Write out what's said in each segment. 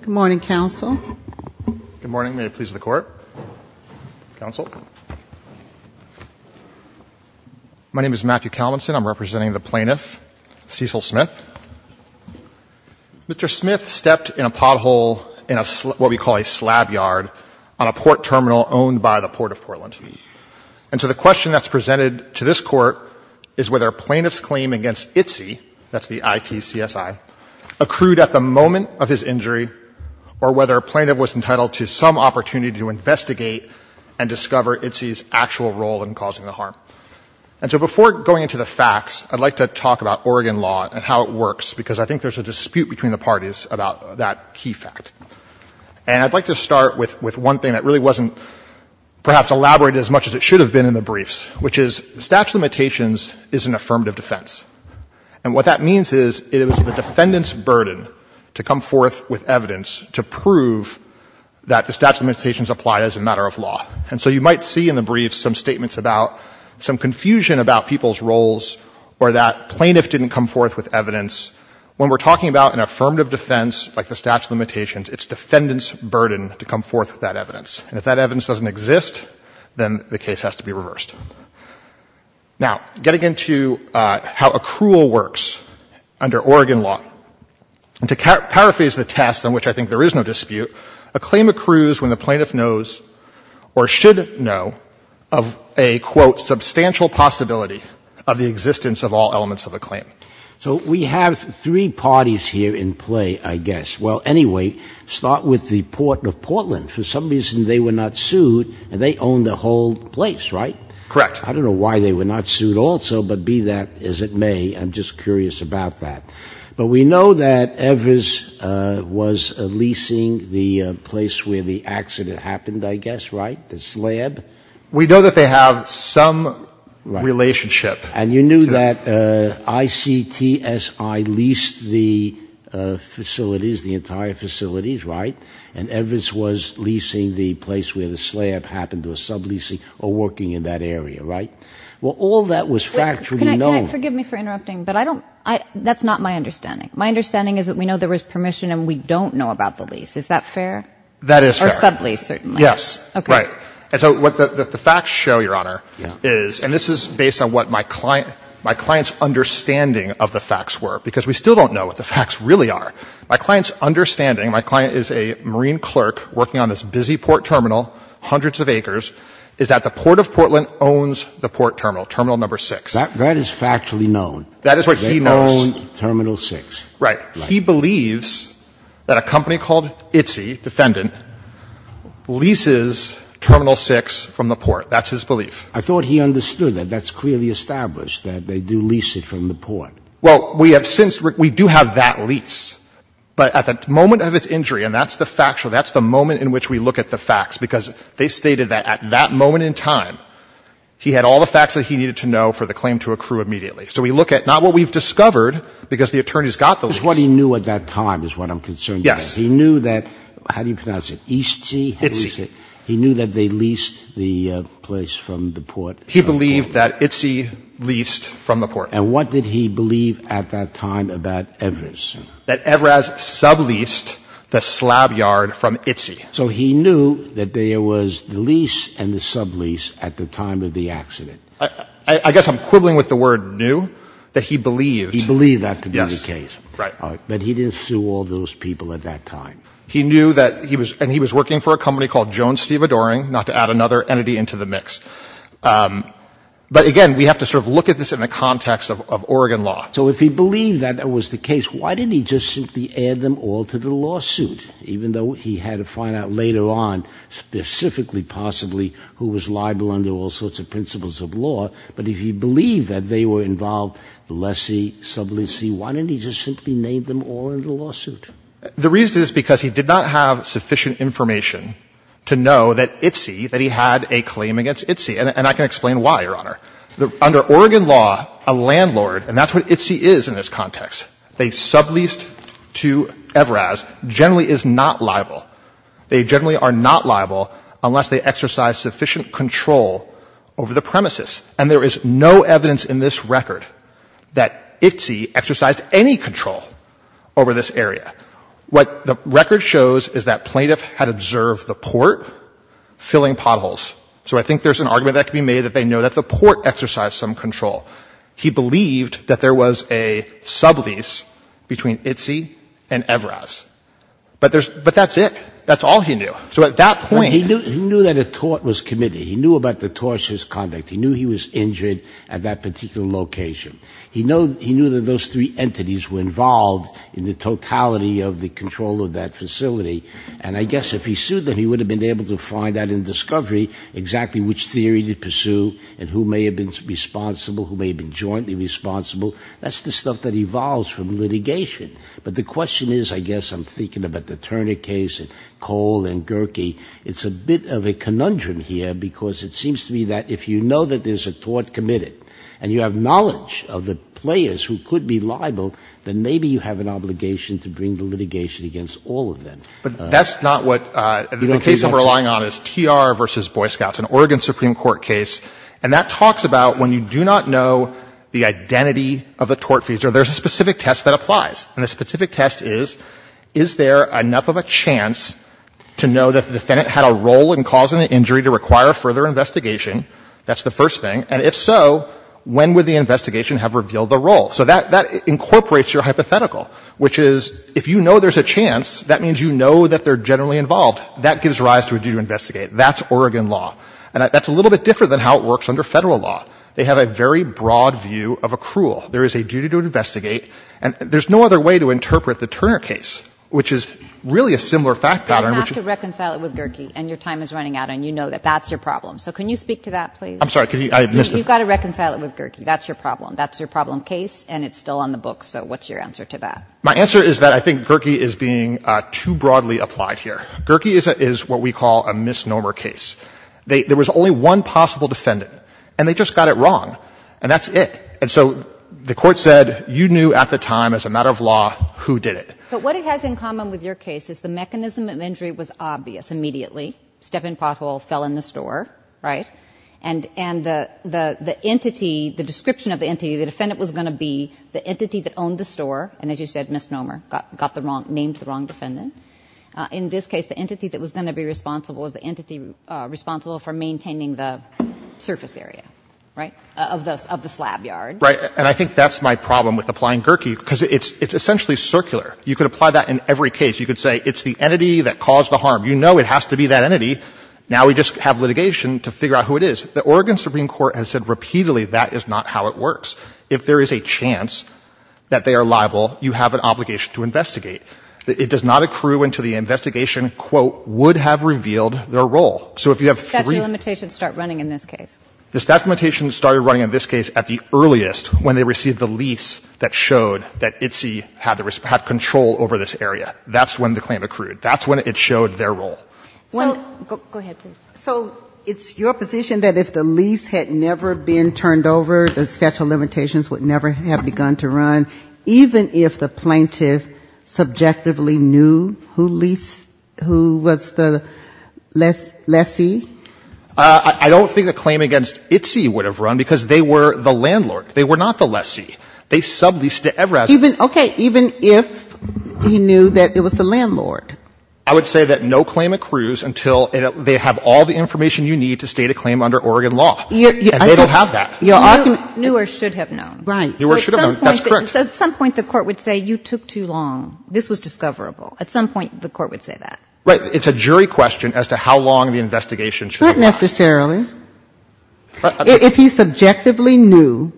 Good morning, counsel. Good morning. May it please the Court. Counsel. My name is Matthew Calmonson. I'm representing the plaintiff, Cecil Smith. Mr. Smith stepped in a pothole in what we call a slab yard on a port terminal owned by the Port of Portland. And so the question that's presented to this Court is whether a plaintiff's claim against ITC, that's the I-T-C-S-I, accrued at the moment of his injury, or whether a plaintiff was entitled to some opportunity to investigate and discover ITC's actual role in causing the harm. And so before going into the facts, I'd like to talk about Oregon law and how it works, because I think there's a dispute between the parties about that key fact. And I'd like to start with one thing that really wasn't perhaps elaborated as much as it should have been in the briefs, which is the statute of limitations is an affirmative defense. And what that means is it is the defendant's burden to come forth with evidence to prove that the statute of limitations applied as a matter of law. And so you might see in the briefs some statements about some confusion about people's when we're talking about an affirmative defense like the statute of limitations, it's defendant's burden to come forth with that evidence. And if that evidence doesn't exist, then the case has to be reversed. Now, getting into how accrual works under Oregon law, and to paraphrase the test, on which I think there is no dispute, a claim accrues when the plaintiff knows or should know of a, quote, substantial possibility of the existence of all elements of the claim. So we have three parties here in play, I guess. Well, anyway, start with the Port of Portland. For some reason, they were not sued, and they own the whole place, right? Correct. I don't know why they were not sued also, but be that as it may, I'm just curious about that. But we know that Evers was leasing the place where the accident happened, I guess, right? The slab? We know that they have some relationship. And you knew that ICTSI leased the facilities, the entire facilities, right? And Evers was leasing the place where the slab happened, or sub-leasing, or working in that area, right? Well, all that was factually known. Can I, can I, forgive me for interrupting, but I don't, I, that's not my understanding. My understanding is that we know there was permission and we don't know about the lease. Is that fair? That is fair. Or sub-lease, certainly. Yes. Okay. Right. And so what the facts show, Your Honor, is, and this is based on what my client, my client's understanding of the facts were, because we still don't know what the facts really are. My client's understanding, my client is a Marine clerk working on this busy port terminal, hundreds of acres, is that the Port of Portland owns the port terminal, Terminal No. 6. That is factually known. That is what he knows. They own Terminal 6. Right. He believes that a company called ITSE, Defendant, leases Terminal 6 from the port. That's his belief. I thought he understood that. That's clearly established, that they do lease it from the port. Well, we have since, we do have that lease. But at the moment of its injury, and that's the factual, that's the moment in which we look at the facts, because they stated that at that moment in time, he had all the facts that he needed to know for the claim to accrue immediately. So we look at not what we've discovered, because the attorneys got the lease. That's what he knew at that time is what I'm concerned about. Yes. He knew that, how do you pronounce it, Eastsea? ITSE. He knew that they leased the place from the port. He believed that ITSE leased from the port. And what did he believe at that time about Everest? That Everest subleased the slab yard from ITSE. So he knew that there was the lease and the sublease at the time of the accident. I guess I'm quibbling with the word knew, that he believed. He believed that to be the case. Right. But he didn't sue all those people at that time. He knew that he was, and he was working for a company called Jones-Steva-Doering, not to add another entity into the mix. But, again, we have to sort of look at this in the context of Oregon law. So if he believed that that was the case, why didn't he just simply add them all to the lawsuit, even though he had to find out later on, specifically, possibly, who was liable under all sorts of principles of law? But if he believed that they were involved, lessee, subleasee, why didn't he just simply name them all in the lawsuit? The reason is because he did not have sufficient information to know that ITSE, that he had a claim against ITSE. And I can explain why, Your Honor. Under Oregon law, a landlord, and that's what ITSE is in this context, they subleased to Everest, generally is not liable. They generally are not liable unless they exercise sufficient control over the premises. And there is no evidence in this record that ITSE exercised any control over this area. What the record shows is that plaintiff had observed the port filling potholes. So I think there's an argument that could be made that they know that the port exercised some control. He believed that there was a sublease between ITSE and Everest. But there's — but that's it. That's all he knew. So at that point — He knew that a tort was committed. He knew about the tortious conduct. He knew he was injured at that particular location. He knew that those three entities were involved in the totality of the control of that facility. And I guess if he sued them, he would have been able to find out in discovery exactly which theory to pursue and who may have been responsible, who may have been jointly responsible. That's the stuff that evolves from litigation. But the question is, I guess I'm thinking about the Turner case and Cole and Gerke, it's a bit of a conundrum here, because it seems to me that if you know that there's a tort committed and you have knowledge of the players who could be liable, then maybe you have an obligation to bring the litigation against all of them. But that's not what — You don't think that's — The case I'm relying on is TR v. Boy Scouts, an Oregon Supreme Court case. And that talks about when you do not know the identity of the tort feature, there's a specific test that applies. And the specific test is, is there enough of a chance to know that the defendant had a role in causing the injury to require further investigation? That's the first thing. And if so, when would the investigation have revealed the role? So that incorporates your hypothetical, which is if you know there's a chance, that means you know that they're generally involved. That gives rise to a duty to investigate. That's Oregon law. And that's a little bit different than how it works under Federal law. They have a very broad view of accrual. There is a duty to investigate. And there's no other way to interpret the Turner case, which is really a similar fact pattern, which — You have to reconcile it with Gerkey, and your time is running out, and you know that that's your problem. So can you speak to that, please? I'm sorry. Could you — I missed — You've got to reconcile it with Gerkey. That's your problem. That's your problem case, and it's still on the books. So what's your answer to that? My answer is that I think Gerkey is being too broadly applied here. Gerkey is what we call a misnomer case. There was only one possible defendant, and they just got it wrong. And that's it. And so the Court said you knew at the time, as a matter of law, who did it. But what it has in common with your case is the mechanism of injury was obvious immediately. Step in pothole, fell in the store, right? And the entity, the description of the entity, the defendant was going to be the entity that owned the store, and as you said, misnomer, got the wrong — named the wrong defendant. In this case, the entity that was going to be responsible was the entity responsible for maintaining the surface area, right, of the slab yard. Right. And I think that's my problem with applying Gerkey, because it's essentially circular. You could apply that in every case. You could say it's the entity that caused the harm. You know it has to be that entity. Now we just have litigation to figure out who it is. The Oregon Supreme Court has said repeatedly that is not how it works. If there is a chance that they are liable, you have an obligation to investigate. It does not accrue into the investigation, quote, would have revealed their role. So if you have three — Statute of limitations start running in this case. The statute of limitations started running in this case at the earliest when they received the lease that showed that ITSE had control over this area. That's when the claim accrued. That's when it showed their role. So — Go ahead, please. So it's your position that if the lease had never been turned over, the statute of limitations would never have begun to run, even if the plaintiff subjectively knew who leased — who was the lessee? I don't think a claim against ITSE would have run because they were the landlord. They were not the lessee. They subleased to Everaz. Even — okay. Even if he knew that it was the landlord. I would say that no claim accrues until they have all the information you need to state a claim under Oregon law. And they don't have that. I can — Knew or should have known. Right. Knew or should have known. That's correct. So at some point the court would say you took too long. This was discoverable. At some point the court would say that. Right. It's a jury question as to how long the investigation should have lasted. Not necessarily. If he subjectively knew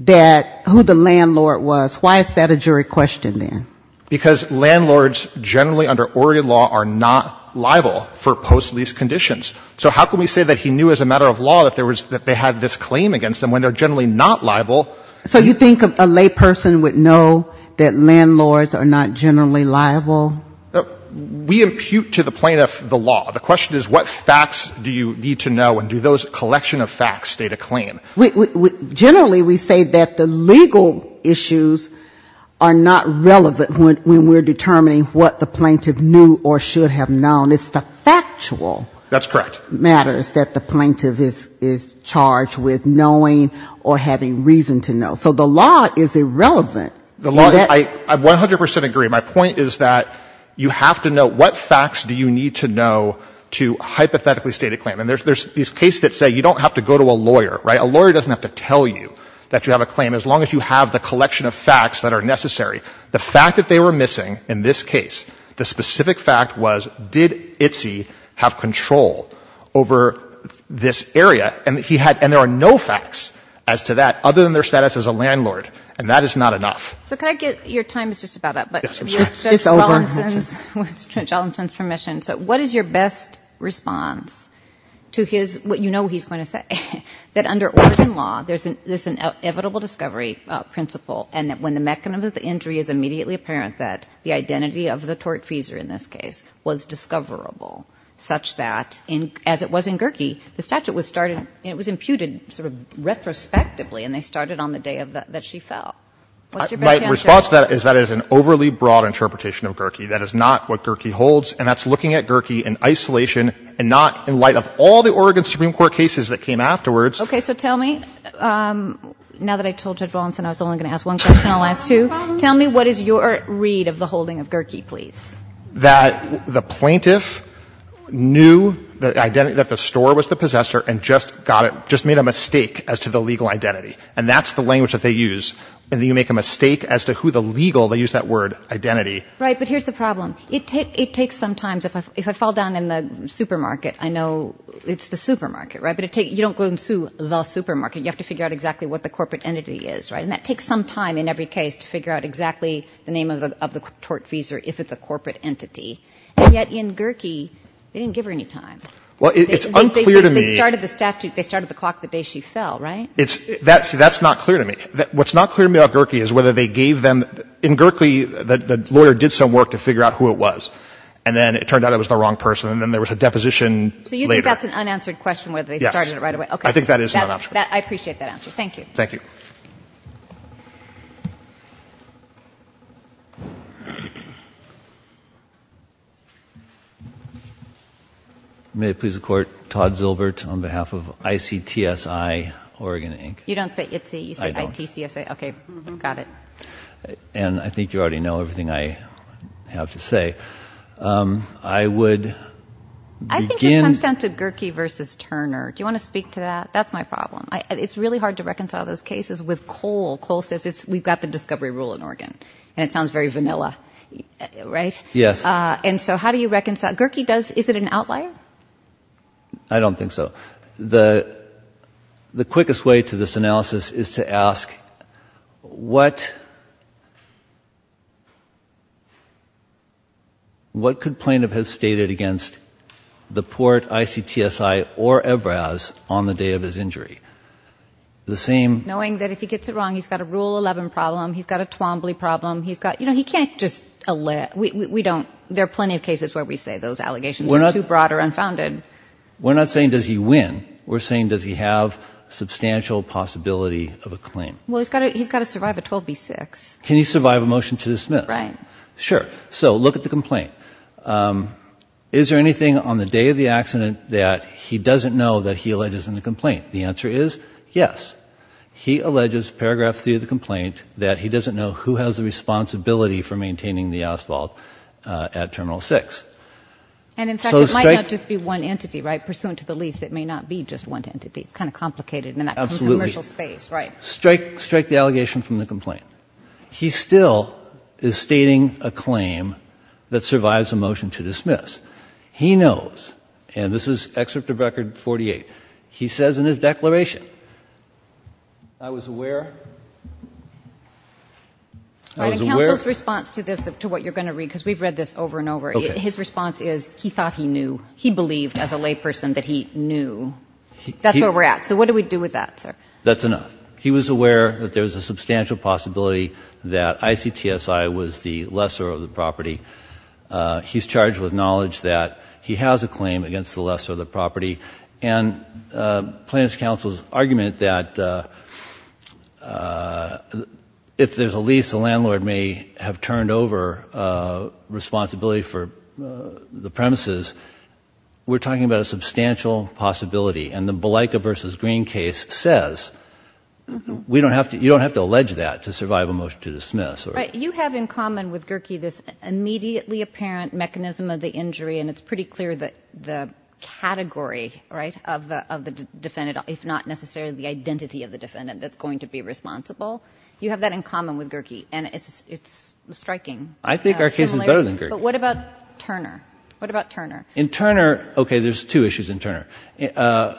that — who the landlord was, why is that a jury question then? Because landlords generally under Oregon law are not liable for post-lease conditions. So how can we say that he knew as a matter of law that there was — that they had this claim against them when they're generally not liable? So you think a layperson would know that landlords are not generally liable? We impute to the plaintiff the law. The question is what facts do you need to know and do those collection of facts state a claim? Generally we say that the legal issues are not relevant when we're determining what the plaintiff knew or should have known. It's the factual — That's correct. — matters that the plaintiff is charged with knowing or having reason to know. So the law is irrelevant. The law — I 100 percent agree. My point is that you have to know what facts do you need to know to hypothetically state a claim. And there's these cases that say you don't have to go to a lawyer, right? A lawyer doesn't have to tell you that you have a claim as long as you have the collection of facts that are necessary. The fact that they were missing in this case, the specific fact was did Itsy have control over this area? And he had — and there are no facts as to that other than their status as a landlord, and that is not enough. So can I get — your time is just about up, but — Yes, I'm sorry. It's over. — with Judge Ellenson's — with Judge Ellenson's permission. So what is your best response to his — you know what he's going to say, that under Oregon law there's an inevitable discovery principle and that when the mechanism of the injury is immediately apparent that the identity of the tortfeasor in this case was discoverable such that in — as it was in Gerke, the statute was started — it was imputed sort of retrospectively, and they started on the day that she fell. What's your best answer? My response to that is that is an overly broad interpretation of Gerke. That is not what Gerke holds, and that's looking at Gerke in isolation and not in light of all the Oregon Supreme Court cases that came afterwards. Okay. So tell me — now that I told Judge Wallenson I was only going to ask one question, Tell me what is your read of the holding of Gerke, please? That the plaintiff knew that the store was the possessor and just got it — just made a mistake as to the legal identity. And that's the language that they use. And then you make a mistake as to who the legal — they use that word, identity. Right. But here's the problem. It takes some time. If I fall down in the supermarket, I know it's the supermarket, right? But it takes — you don't go and sue the supermarket. You have to figure out exactly what the corporate entity is, right? And that takes some time in every case to figure out exactly the name of the tortfeasor if it's a corporate entity. And yet in Gerke, they didn't give her any time. Well, it's unclear to me — They started the clock the day she fell, right? That's not clear to me. What's not clear to me about Gerke is whether they gave them — in Gerke, the lawyer did some work to figure out who it was. And then it turned out it was the wrong person. And then there was a deposition later. So you think that's an unanswered question whether they started it right away? Yes. I think that is an unanswered question. I appreciate that answer. Thank you. May it please the Court, Todd Zilbert on behalf of ICTSI, Oregon Inc. You don't say ITC. I don't. You say ITCSA. Okay, got it. And I think you already know everything I have to say. I would begin — I think it comes down to Gerke versus Turner. Do you want to speak to that? That's my problem. It's really hard to reconcile those cases with Cole. Cole says, we've got the discovery rule in Oregon. And it sounds very vanilla. Right? Yes. And so how do you reconcile? Gerke does — is it an outlier? I don't think so. The quickest way to this analysis is to ask, what could plaintiff have stated against the court, ICTSI, or Evraz on the day of his injury? The same — Knowing that if he gets it wrong, he's got a Rule 11 problem. He's got a Twombly problem. He can't just — there are plenty of cases where we say those allegations are too broad or unfounded. We're not saying, does he win? We're saying, does he have substantial possibility of a claim? Well, he's got to survive a 12B6. Can he survive a motion to dismiss? Right. Sure. So look at the complaint. Is there anything on the day of the accident that he doesn't know that he alleges in the complaint? The answer is yes. He alleges, paragraph 3 of the complaint, that he doesn't know who has the responsibility for maintaining the asphalt at Terminal 6. And, in fact, it might not just be one entity, right? Pursuant to the lease, it may not be just one entity. It's kind of complicated in that commercial space. Absolutely. Right. Strike the allegation from the complaint. He still is stating a claim that survives a motion to dismiss. He knows, and this is Excerpt of Record 48. He says in his declaration, I was aware. I was aware. All right. And counsel's response to this, to what you're going to read, because we've read this over and over. Okay. His response is he thought he knew. He believed, as a layperson, that he knew. That's where we're at. So what do we do with that, sir? That's enough. He was aware that there's a substantial possibility that ICTSI was the lesser of the property. He's charged with knowledge that he has a claim against the lesser of the property. And Plaintiff's counsel's argument that if there's a lease, the landlord may have turned over responsibility for the premises. We're talking about a substantial possibility. And the Belica v. Green case says you don't have to allege that to survive a motion to dismiss. You have in common with Gerke this immediately apparent mechanism of the injury, and it's pretty clear that the category, right, of the defendant, if not necessarily the identity of the defendant, that's going to be responsible. You have that in common with Gerke, and it's striking. I think our case is better than Gerke. But what about Turner? What about Turner? In Turner, okay, there's two issues in Turner.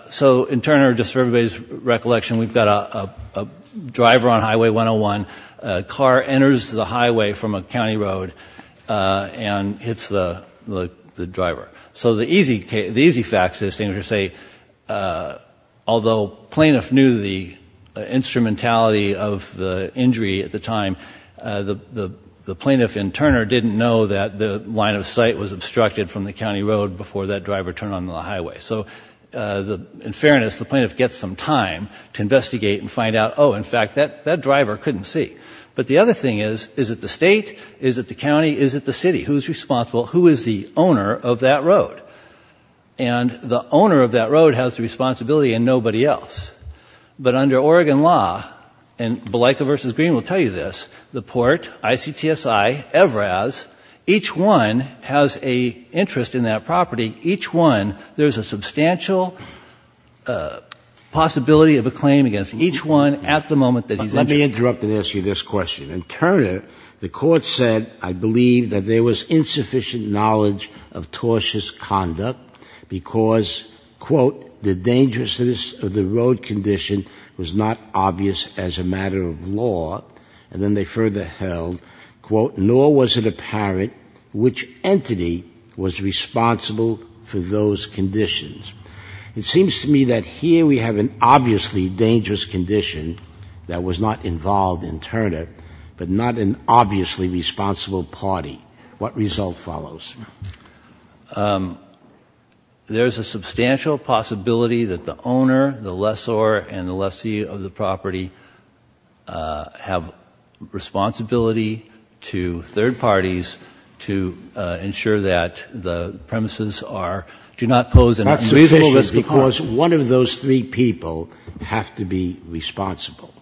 So in Turner, just for everybody's recollection, we've got a driver on Highway 101. A car enters the highway from a county road and hits the driver. So the easy facts, as you say, although Plaintiff knew the instrumentality of the injury at the time, the Plaintiff in Turner didn't know that the line of sight was obstructed from the county road before that driver turned on the highway. So in fairness, the Plaintiff gets some time to investigate and find out, oh, in fact, that driver couldn't see. But the other thing is, is it the state? Is it the county? Is it the city? Who's responsible? Who is the owner of that road? And the owner of that road has the responsibility and nobody else. But under Oregon law, and Balica v. Green will tell you this, the Port, ICTSI, Evraz, each one has an interest in that property. Each one, there's a substantial possibility of a claim against each one at the moment that he's interested. Let me interrupt and ask you this question. In Turner, the Court said, I believe, that there was insufficient knowledge of tortious conduct because, quote, the dangerousness of the road condition was not obvious as a matter of law. And then they further held, quote, nor was it apparent which entity was responsible for those conditions. It seems to me that here we have an obviously dangerous condition that was not involved in Turner, but not an obviously responsible party. What result follows? There's a substantial possibility that the owner, the lessor, and the lessee of the property have responsibility to third parties to ensure that the premises do not pose an unreasonable risk. That's sufficient because one of those three people have to be responsible,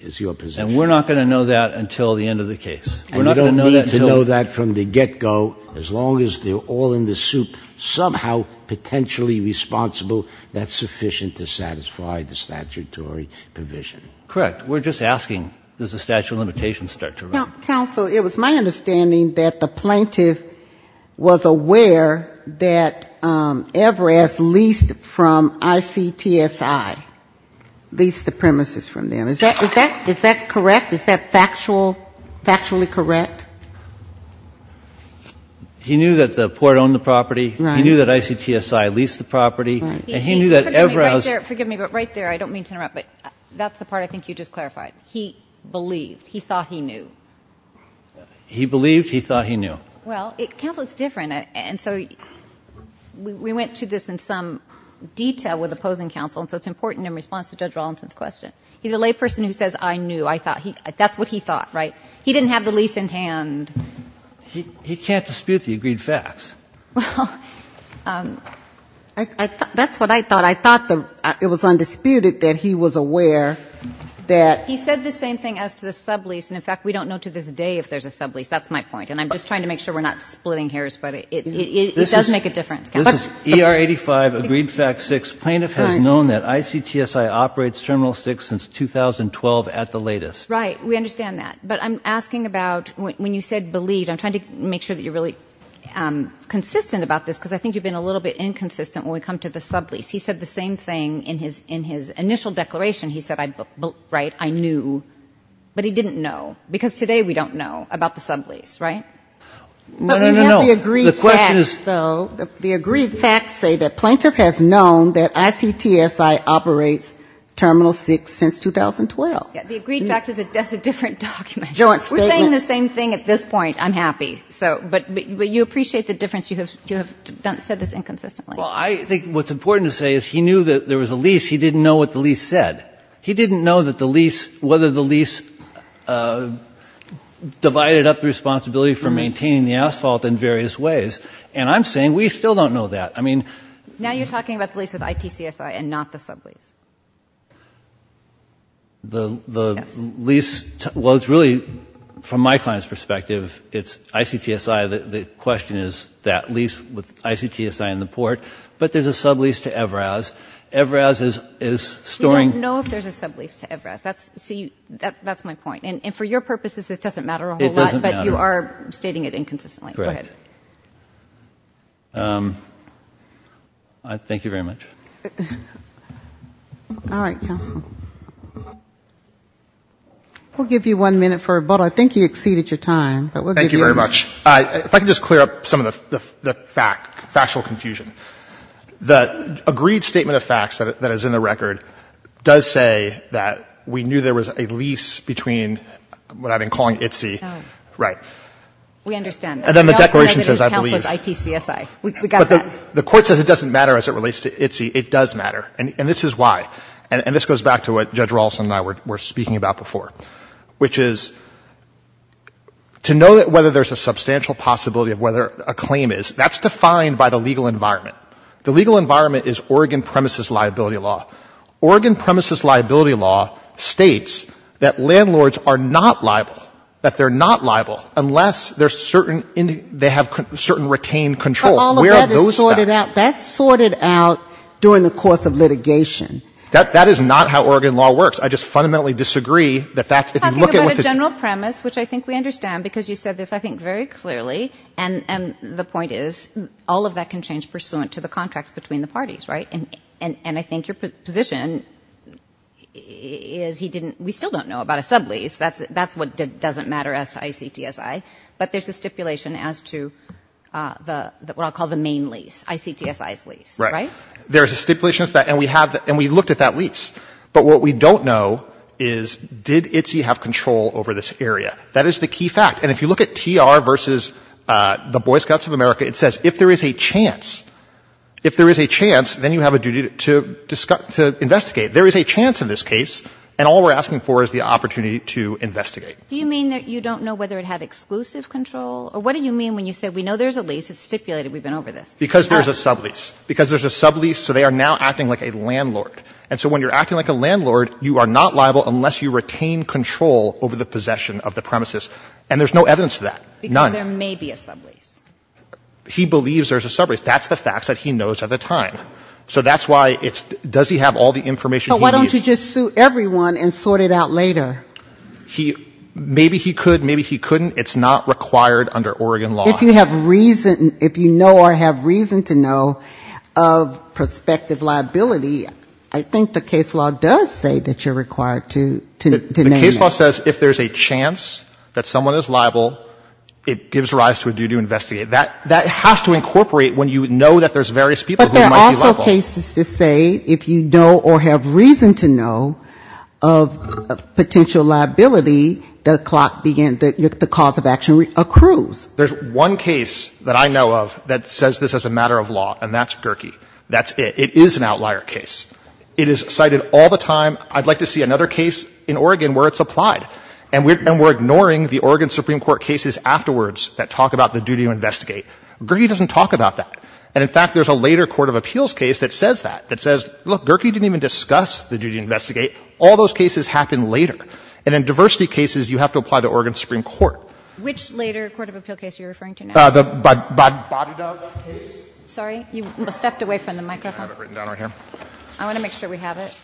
is your position. And we're not going to know that until the end of the case. And you don't need to know that from the get-go. As long as they're all in the soup, somehow potentially responsible, that's sufficient to satisfy the statutory provision. Correct. We're just asking, does the statute of limitations start to run? Counsel, it was my understanding that the plaintiff was aware that Everest leased from ICTSI, leased the premises from them. Is that correct? Is that factual, factually correct? He knew that the port owned the property. Right. He knew that ICTSI leased the property. Right. And he knew that Everest. Forgive me, but right there, I don't mean to interrupt, but that's the part I think you just clarified. He believed. He thought he knew. He believed. He thought he knew. Well, counsel, it's different. And so we went through this in some detail with opposing counsel, and so it's important in response to Judge Rollinson's question. He's a layperson who says, I knew, I thought. That's what he thought, right? He didn't have the lease in hand. He can't dispute the agreed facts. Well, that's what I thought. I thought it was undisputed that he was aware that. He said the same thing as to the sublease. And, in fact, we don't know to this day if there's a sublease. That's my point. And I'm just trying to make sure we're not splitting hairs, but it does make a difference. This is ER 85, agreed fact 6. Plaintiff has known that ICTSI operates Terminal 6 since 2012 at the latest. Right. We understand that. But I'm asking about when you said believed. I'm trying to make sure that you're really consistent about this, because I think you've been a little bit inconsistent when we come to the sublease. He said the same thing in his initial declaration. He said, right, I knew. But he didn't know, because today we don't know about the sublease, right? No, no, no. The agreed facts, though, the agreed facts say that plaintiff has known that ICTSI operates Terminal 6 since 2012. The agreed facts is a different document. Joint statement. We're saying the same thing at this point. I'm happy. But you appreciate the difference. You have said this inconsistently. Well, I think what's important to say is he knew that there was a lease. He didn't know what the lease said. He didn't know that the lease, whether the lease divided up the responsibility for maintaining the asphalt in various ways. And I'm saying we still don't know that. I mean. Now you're talking about the lease with ITCSI and not the sublease. The lease, well, it's really, from my client's perspective, it's ICTSI. The question is that lease with ICTSI in the port. But there's a sublease to EVRAS. EVRAS is storing. We don't know if there's a sublease to EVRAS. That's my point. And for your purposes, it doesn't matter a whole lot. It doesn't matter. But you are stating it inconsistently. Correct. Go ahead. Thank you very much. All right, counsel. We'll give you one minute for rebuttal. I think you exceeded your time, but we'll give you a minute. Thank you very much. If I could just clear up some of the fact, factual confusion. The agreed statement of facts that is in the record does say that we knew there was a lease between what I've been calling ITCSI. Right. We understand. And then the declaration says, I believe. ITCSI. We got that. The court says it doesn't matter as it relates to ITCSI. It does matter. And this is why. And this goes back to what Judge Rawson and I were speaking about before, which is to know whether there's a substantial possibility of whether a claim is, that's defined by the legal environment. The legal environment is Oregon premises liability law. Oregon premises liability law states that landlords are not liable, that they're not liable unless there's certain, they have certain retained control. Where are those facts? That's sorted out during the course of litigation. That is not how Oregon law works. I just fundamentally disagree that that's. Talking about a general premise, which I think we understand because you said this, I think very clearly, and the point is, all of that can change pursuant to the contracts between the parties, right? And I think your position is he didn't, we still don't know about a sublease. That's what doesn't matter as to ICTSI. But there's a stipulation as to the, what I'll call the main lease, ICTSI's lease, right? Right. There's a stipulation as to that, and we have, and we looked at that lease. But what we don't know is, did ITCSI have control over this area? That is the key fact. And if you look at TR versus the Boy Scouts of America, it says if there is a chance, if there is a chance, then you have a duty to investigate. There is a chance in this case, and all we're asking for is the opportunity to investigate. Do you mean that you don't know whether it had exclusive control? Or what do you mean when you say we know there's a lease, it's stipulated we've been over this? Because there's a sublease. Because there's a sublease, so they are now acting like a landlord. And so when you're acting like a landlord, you are not liable unless you retain control over the possession of the premises. And there's no evidence to that. None. Because there may be a sublease. He believes there's a sublease. That's the facts that he knows at the time. So that's why it's, does he have all the information he needs? But why don't you just sue everyone and sort it out later? He, maybe he could, maybe he couldn't. It's not required under Oregon law. If you have reason, if you know or have reason to know of prospective liability, I think the case law does say that you're required to name it. The case law says if there's a chance that someone is liable, it gives rise to a duty to investigate. That has to incorporate when you know that there's various people who might be liable. But there are also cases that say if you know or have reason to know of potential liability, the cause of action accrues. There's one case that I know of that says this is a matter of law, and that's Gerkey. That's it. It is an outlier case. It is cited all the time. I'd like to see another case in Oregon where it's applied. And we're ignoring the Oregon Supreme Court cases afterwards that talk about the duty to investigate. Gerkey doesn't talk about that. And, in fact, there's a later court of appeals case that says that, that says, look, Gerkey didn't even discuss the duty to investigate. All those cases happen later. And in diversity cases, you have to apply the Oregon Supreme Court. Kagan. Which later court of appeals case are you referring to now? The Bodidov case. Sorry. You stepped away from the microphone. I have it written down right here. I want to make sure we have it.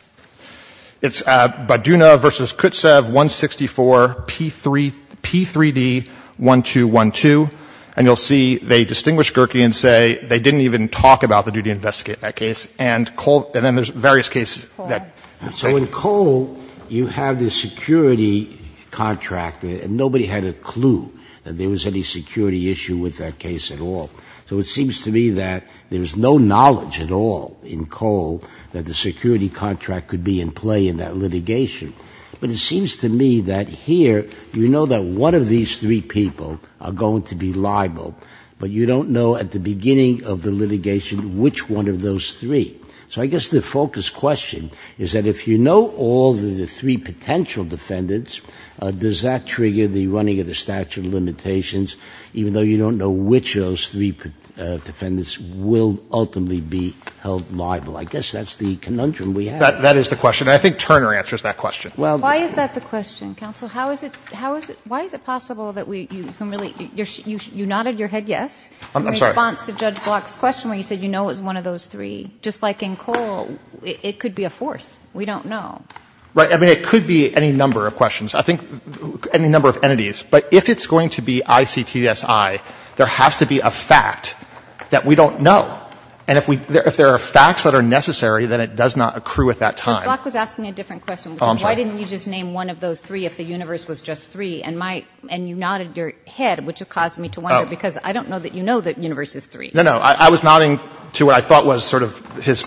It's Bodidov v. Kutsev, 164, P3D-1212. And you'll see they distinguish Gerkey and say they didn't even talk about the duty to investigate that case. And then there's various cases. Sotomayor. So in Cole, you have the security contractor, and nobody had a clue that there was any security issue with that case at all. So it seems to me that there's no knowledge at all in Cole that the security contractor could be in play in that litigation. But it seems to me that here, you know that one of these three people are going to be liable. But you don't know at the beginning of the litigation which one of those three. So I guess the focus question is that if you know all of the three potential defendants, does that trigger the running of the statute of limitations, even though you don't know which of those three defendants will ultimately be held liable? I guess that's the conundrum we have. That is the question. And I think Turner answers that question. Well, why is that the question, counsel? How is it – how is it – why is it possible that we – you nodded your head yes in response to Judge Block's question where you said you know it was one of those three. Just like in Cole, it could be a fourth. We don't know. Right. I mean, it could be any number of questions. I think any number of entities. But if it's going to be ICTSI, there has to be a fact that we don't know. And if we – if there are facts that are necessary, then it does not accrue at that time. Ms. Block was asking a different question. Oh, I'm sorry. Why didn't you just name one of those three if the universe was just three, and my – and you nodded your head, which caused me to wonder, because I don't know that you know the universe is three. No, no. I was nodding to what I thought was sort of his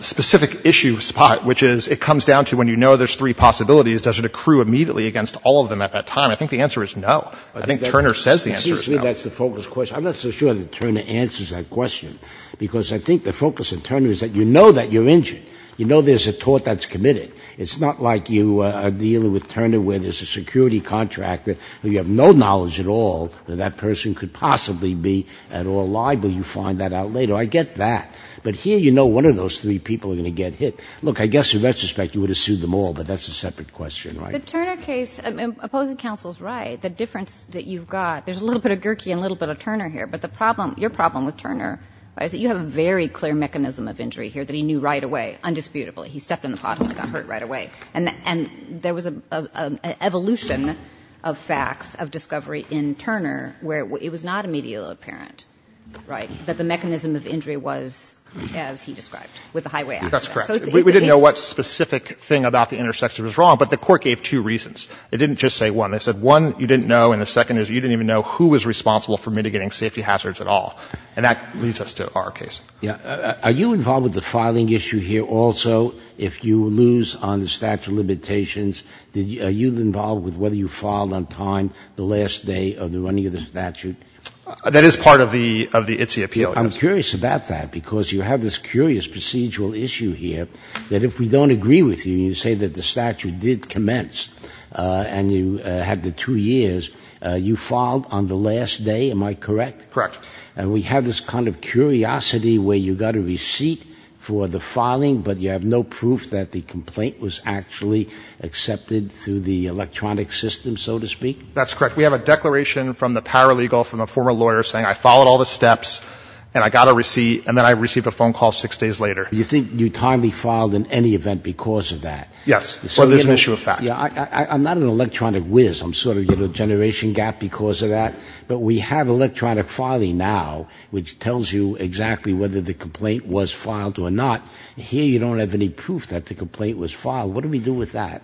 specific issue spot, which is it comes down to when you know there's three possibilities, does it accrue immediately against all of them at that time? I think the answer is no. I think Turner says the answer is no. Seriously, that's the focus question. I'm not so sure that Turner answers that question, because I think the focus of Turner is that you know that you're injured. You know there's a tort that's committed. It's not like you are dealing with Turner where there's a security contractor who you have no knowledge at all that that person could possibly be at all liable. You find that out later. I get that. But here you know one of those three people are going to get hit. Look, I guess in retrospect you would have sued them all, but that's a separate question, right? The Turner case – and opposing counsel is right. The difference that you've got – there's a little bit of Gherke and a little bit of Turner here. But the problem – your problem with Turner is that you have a very clear mechanism of injury here that he knew right away, undisputably. He stepped in the pothole and got hurt right away. And there was an evolution of facts of discovery in Turner where it was not immediately apparent, right, that the mechanism of injury was as he described with the highway accident. That's correct. We didn't know what specific thing about the intersection was wrong, but the court gave two reasons. It didn't just say one. It said one, you didn't know, and the second is you didn't even know who was responsible for mitigating safety hazards at all. And that leads us to our case. Are you involved with the filing issue here also? If you lose on the statute of limitations, are you involved with whether you filed on time the last day of the running of the statute? That is part of the ITSE appeal, yes. I'm curious about that because you have this curious procedural issue here that if we don't agree with you and you say that the statute did commence and you had the two years, you filed on the last day, am I correct? Correct. And we have this kind of curiosity where you got a receipt for the filing, but you have no proof that the complaint was actually accepted through the electronic system, so to speak? That's correct. We have a declaration from the paralegal, from a former lawyer, saying I followed all the steps and I got a receipt and then I received a phone call six days later. You think you timely filed in any event because of that? Yes. Or there's an issue of fact. I'm not an electronic whiz. I'm sort of generation gap because of that. But we have electronic filing now which tells you exactly whether the complaint was filed or not. Here you don't have any proof that the complaint was filed. What do we do with that?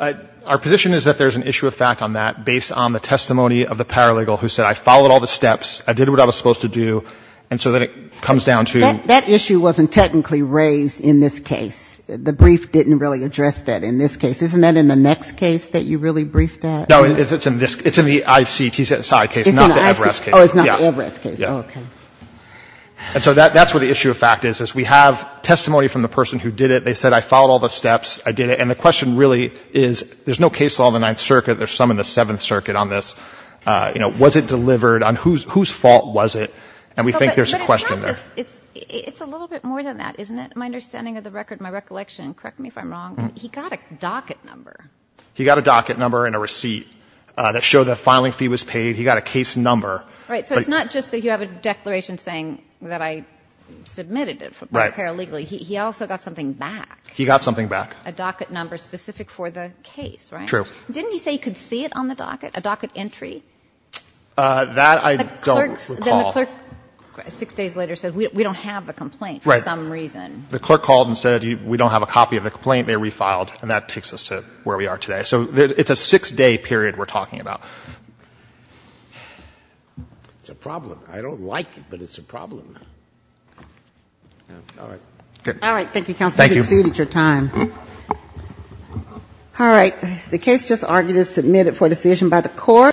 Our position is that there's an issue of fact on that based on the testimony of the paralegal who said I followed all the steps, I did what I was supposed to do, and so then it comes down to you. That issue wasn't technically raised in this case. The brief didn't really address that in this case. Isn't that in the next case that you really briefed at? No. It's in the ICT side case, not the Everest case. Oh, it's not the Everest case. Okay. And so that's where the issue of fact is. We have testimony from the person who did it. They said I followed all the steps, I did it. And the question really is there's no case law in the Ninth Circuit. There's some in the Seventh Circuit on this. You know, was it delivered? Whose fault was it? And we think there's a question there. It's a little bit more than that, isn't it? My understanding of the record, my recollection, correct me if I'm wrong, he got a docket number. He got a docket number and a receipt that showed the filing fee was paid. He got a case number. Right. So it's not just that you have a declaration saying that I submitted it. Right. Paralegally. He also got something back. He got something back. A docket number specific for the case, right? True. Didn't he say he could see it on the docket, a docket entry? That I don't recall. Then the clerk six days later said we don't have the complaint for some reason. The clerk called and said we don't have a copy of the complaint. They refiled. And that takes us to where we are today. So it's a six-day period we're talking about. It's a problem. I don't like it, but it's a problem. All right. Good. All right. Thank you, counsel. Thank you. You've exceeded your time. All right. The case just argued is submitted for decision by the court.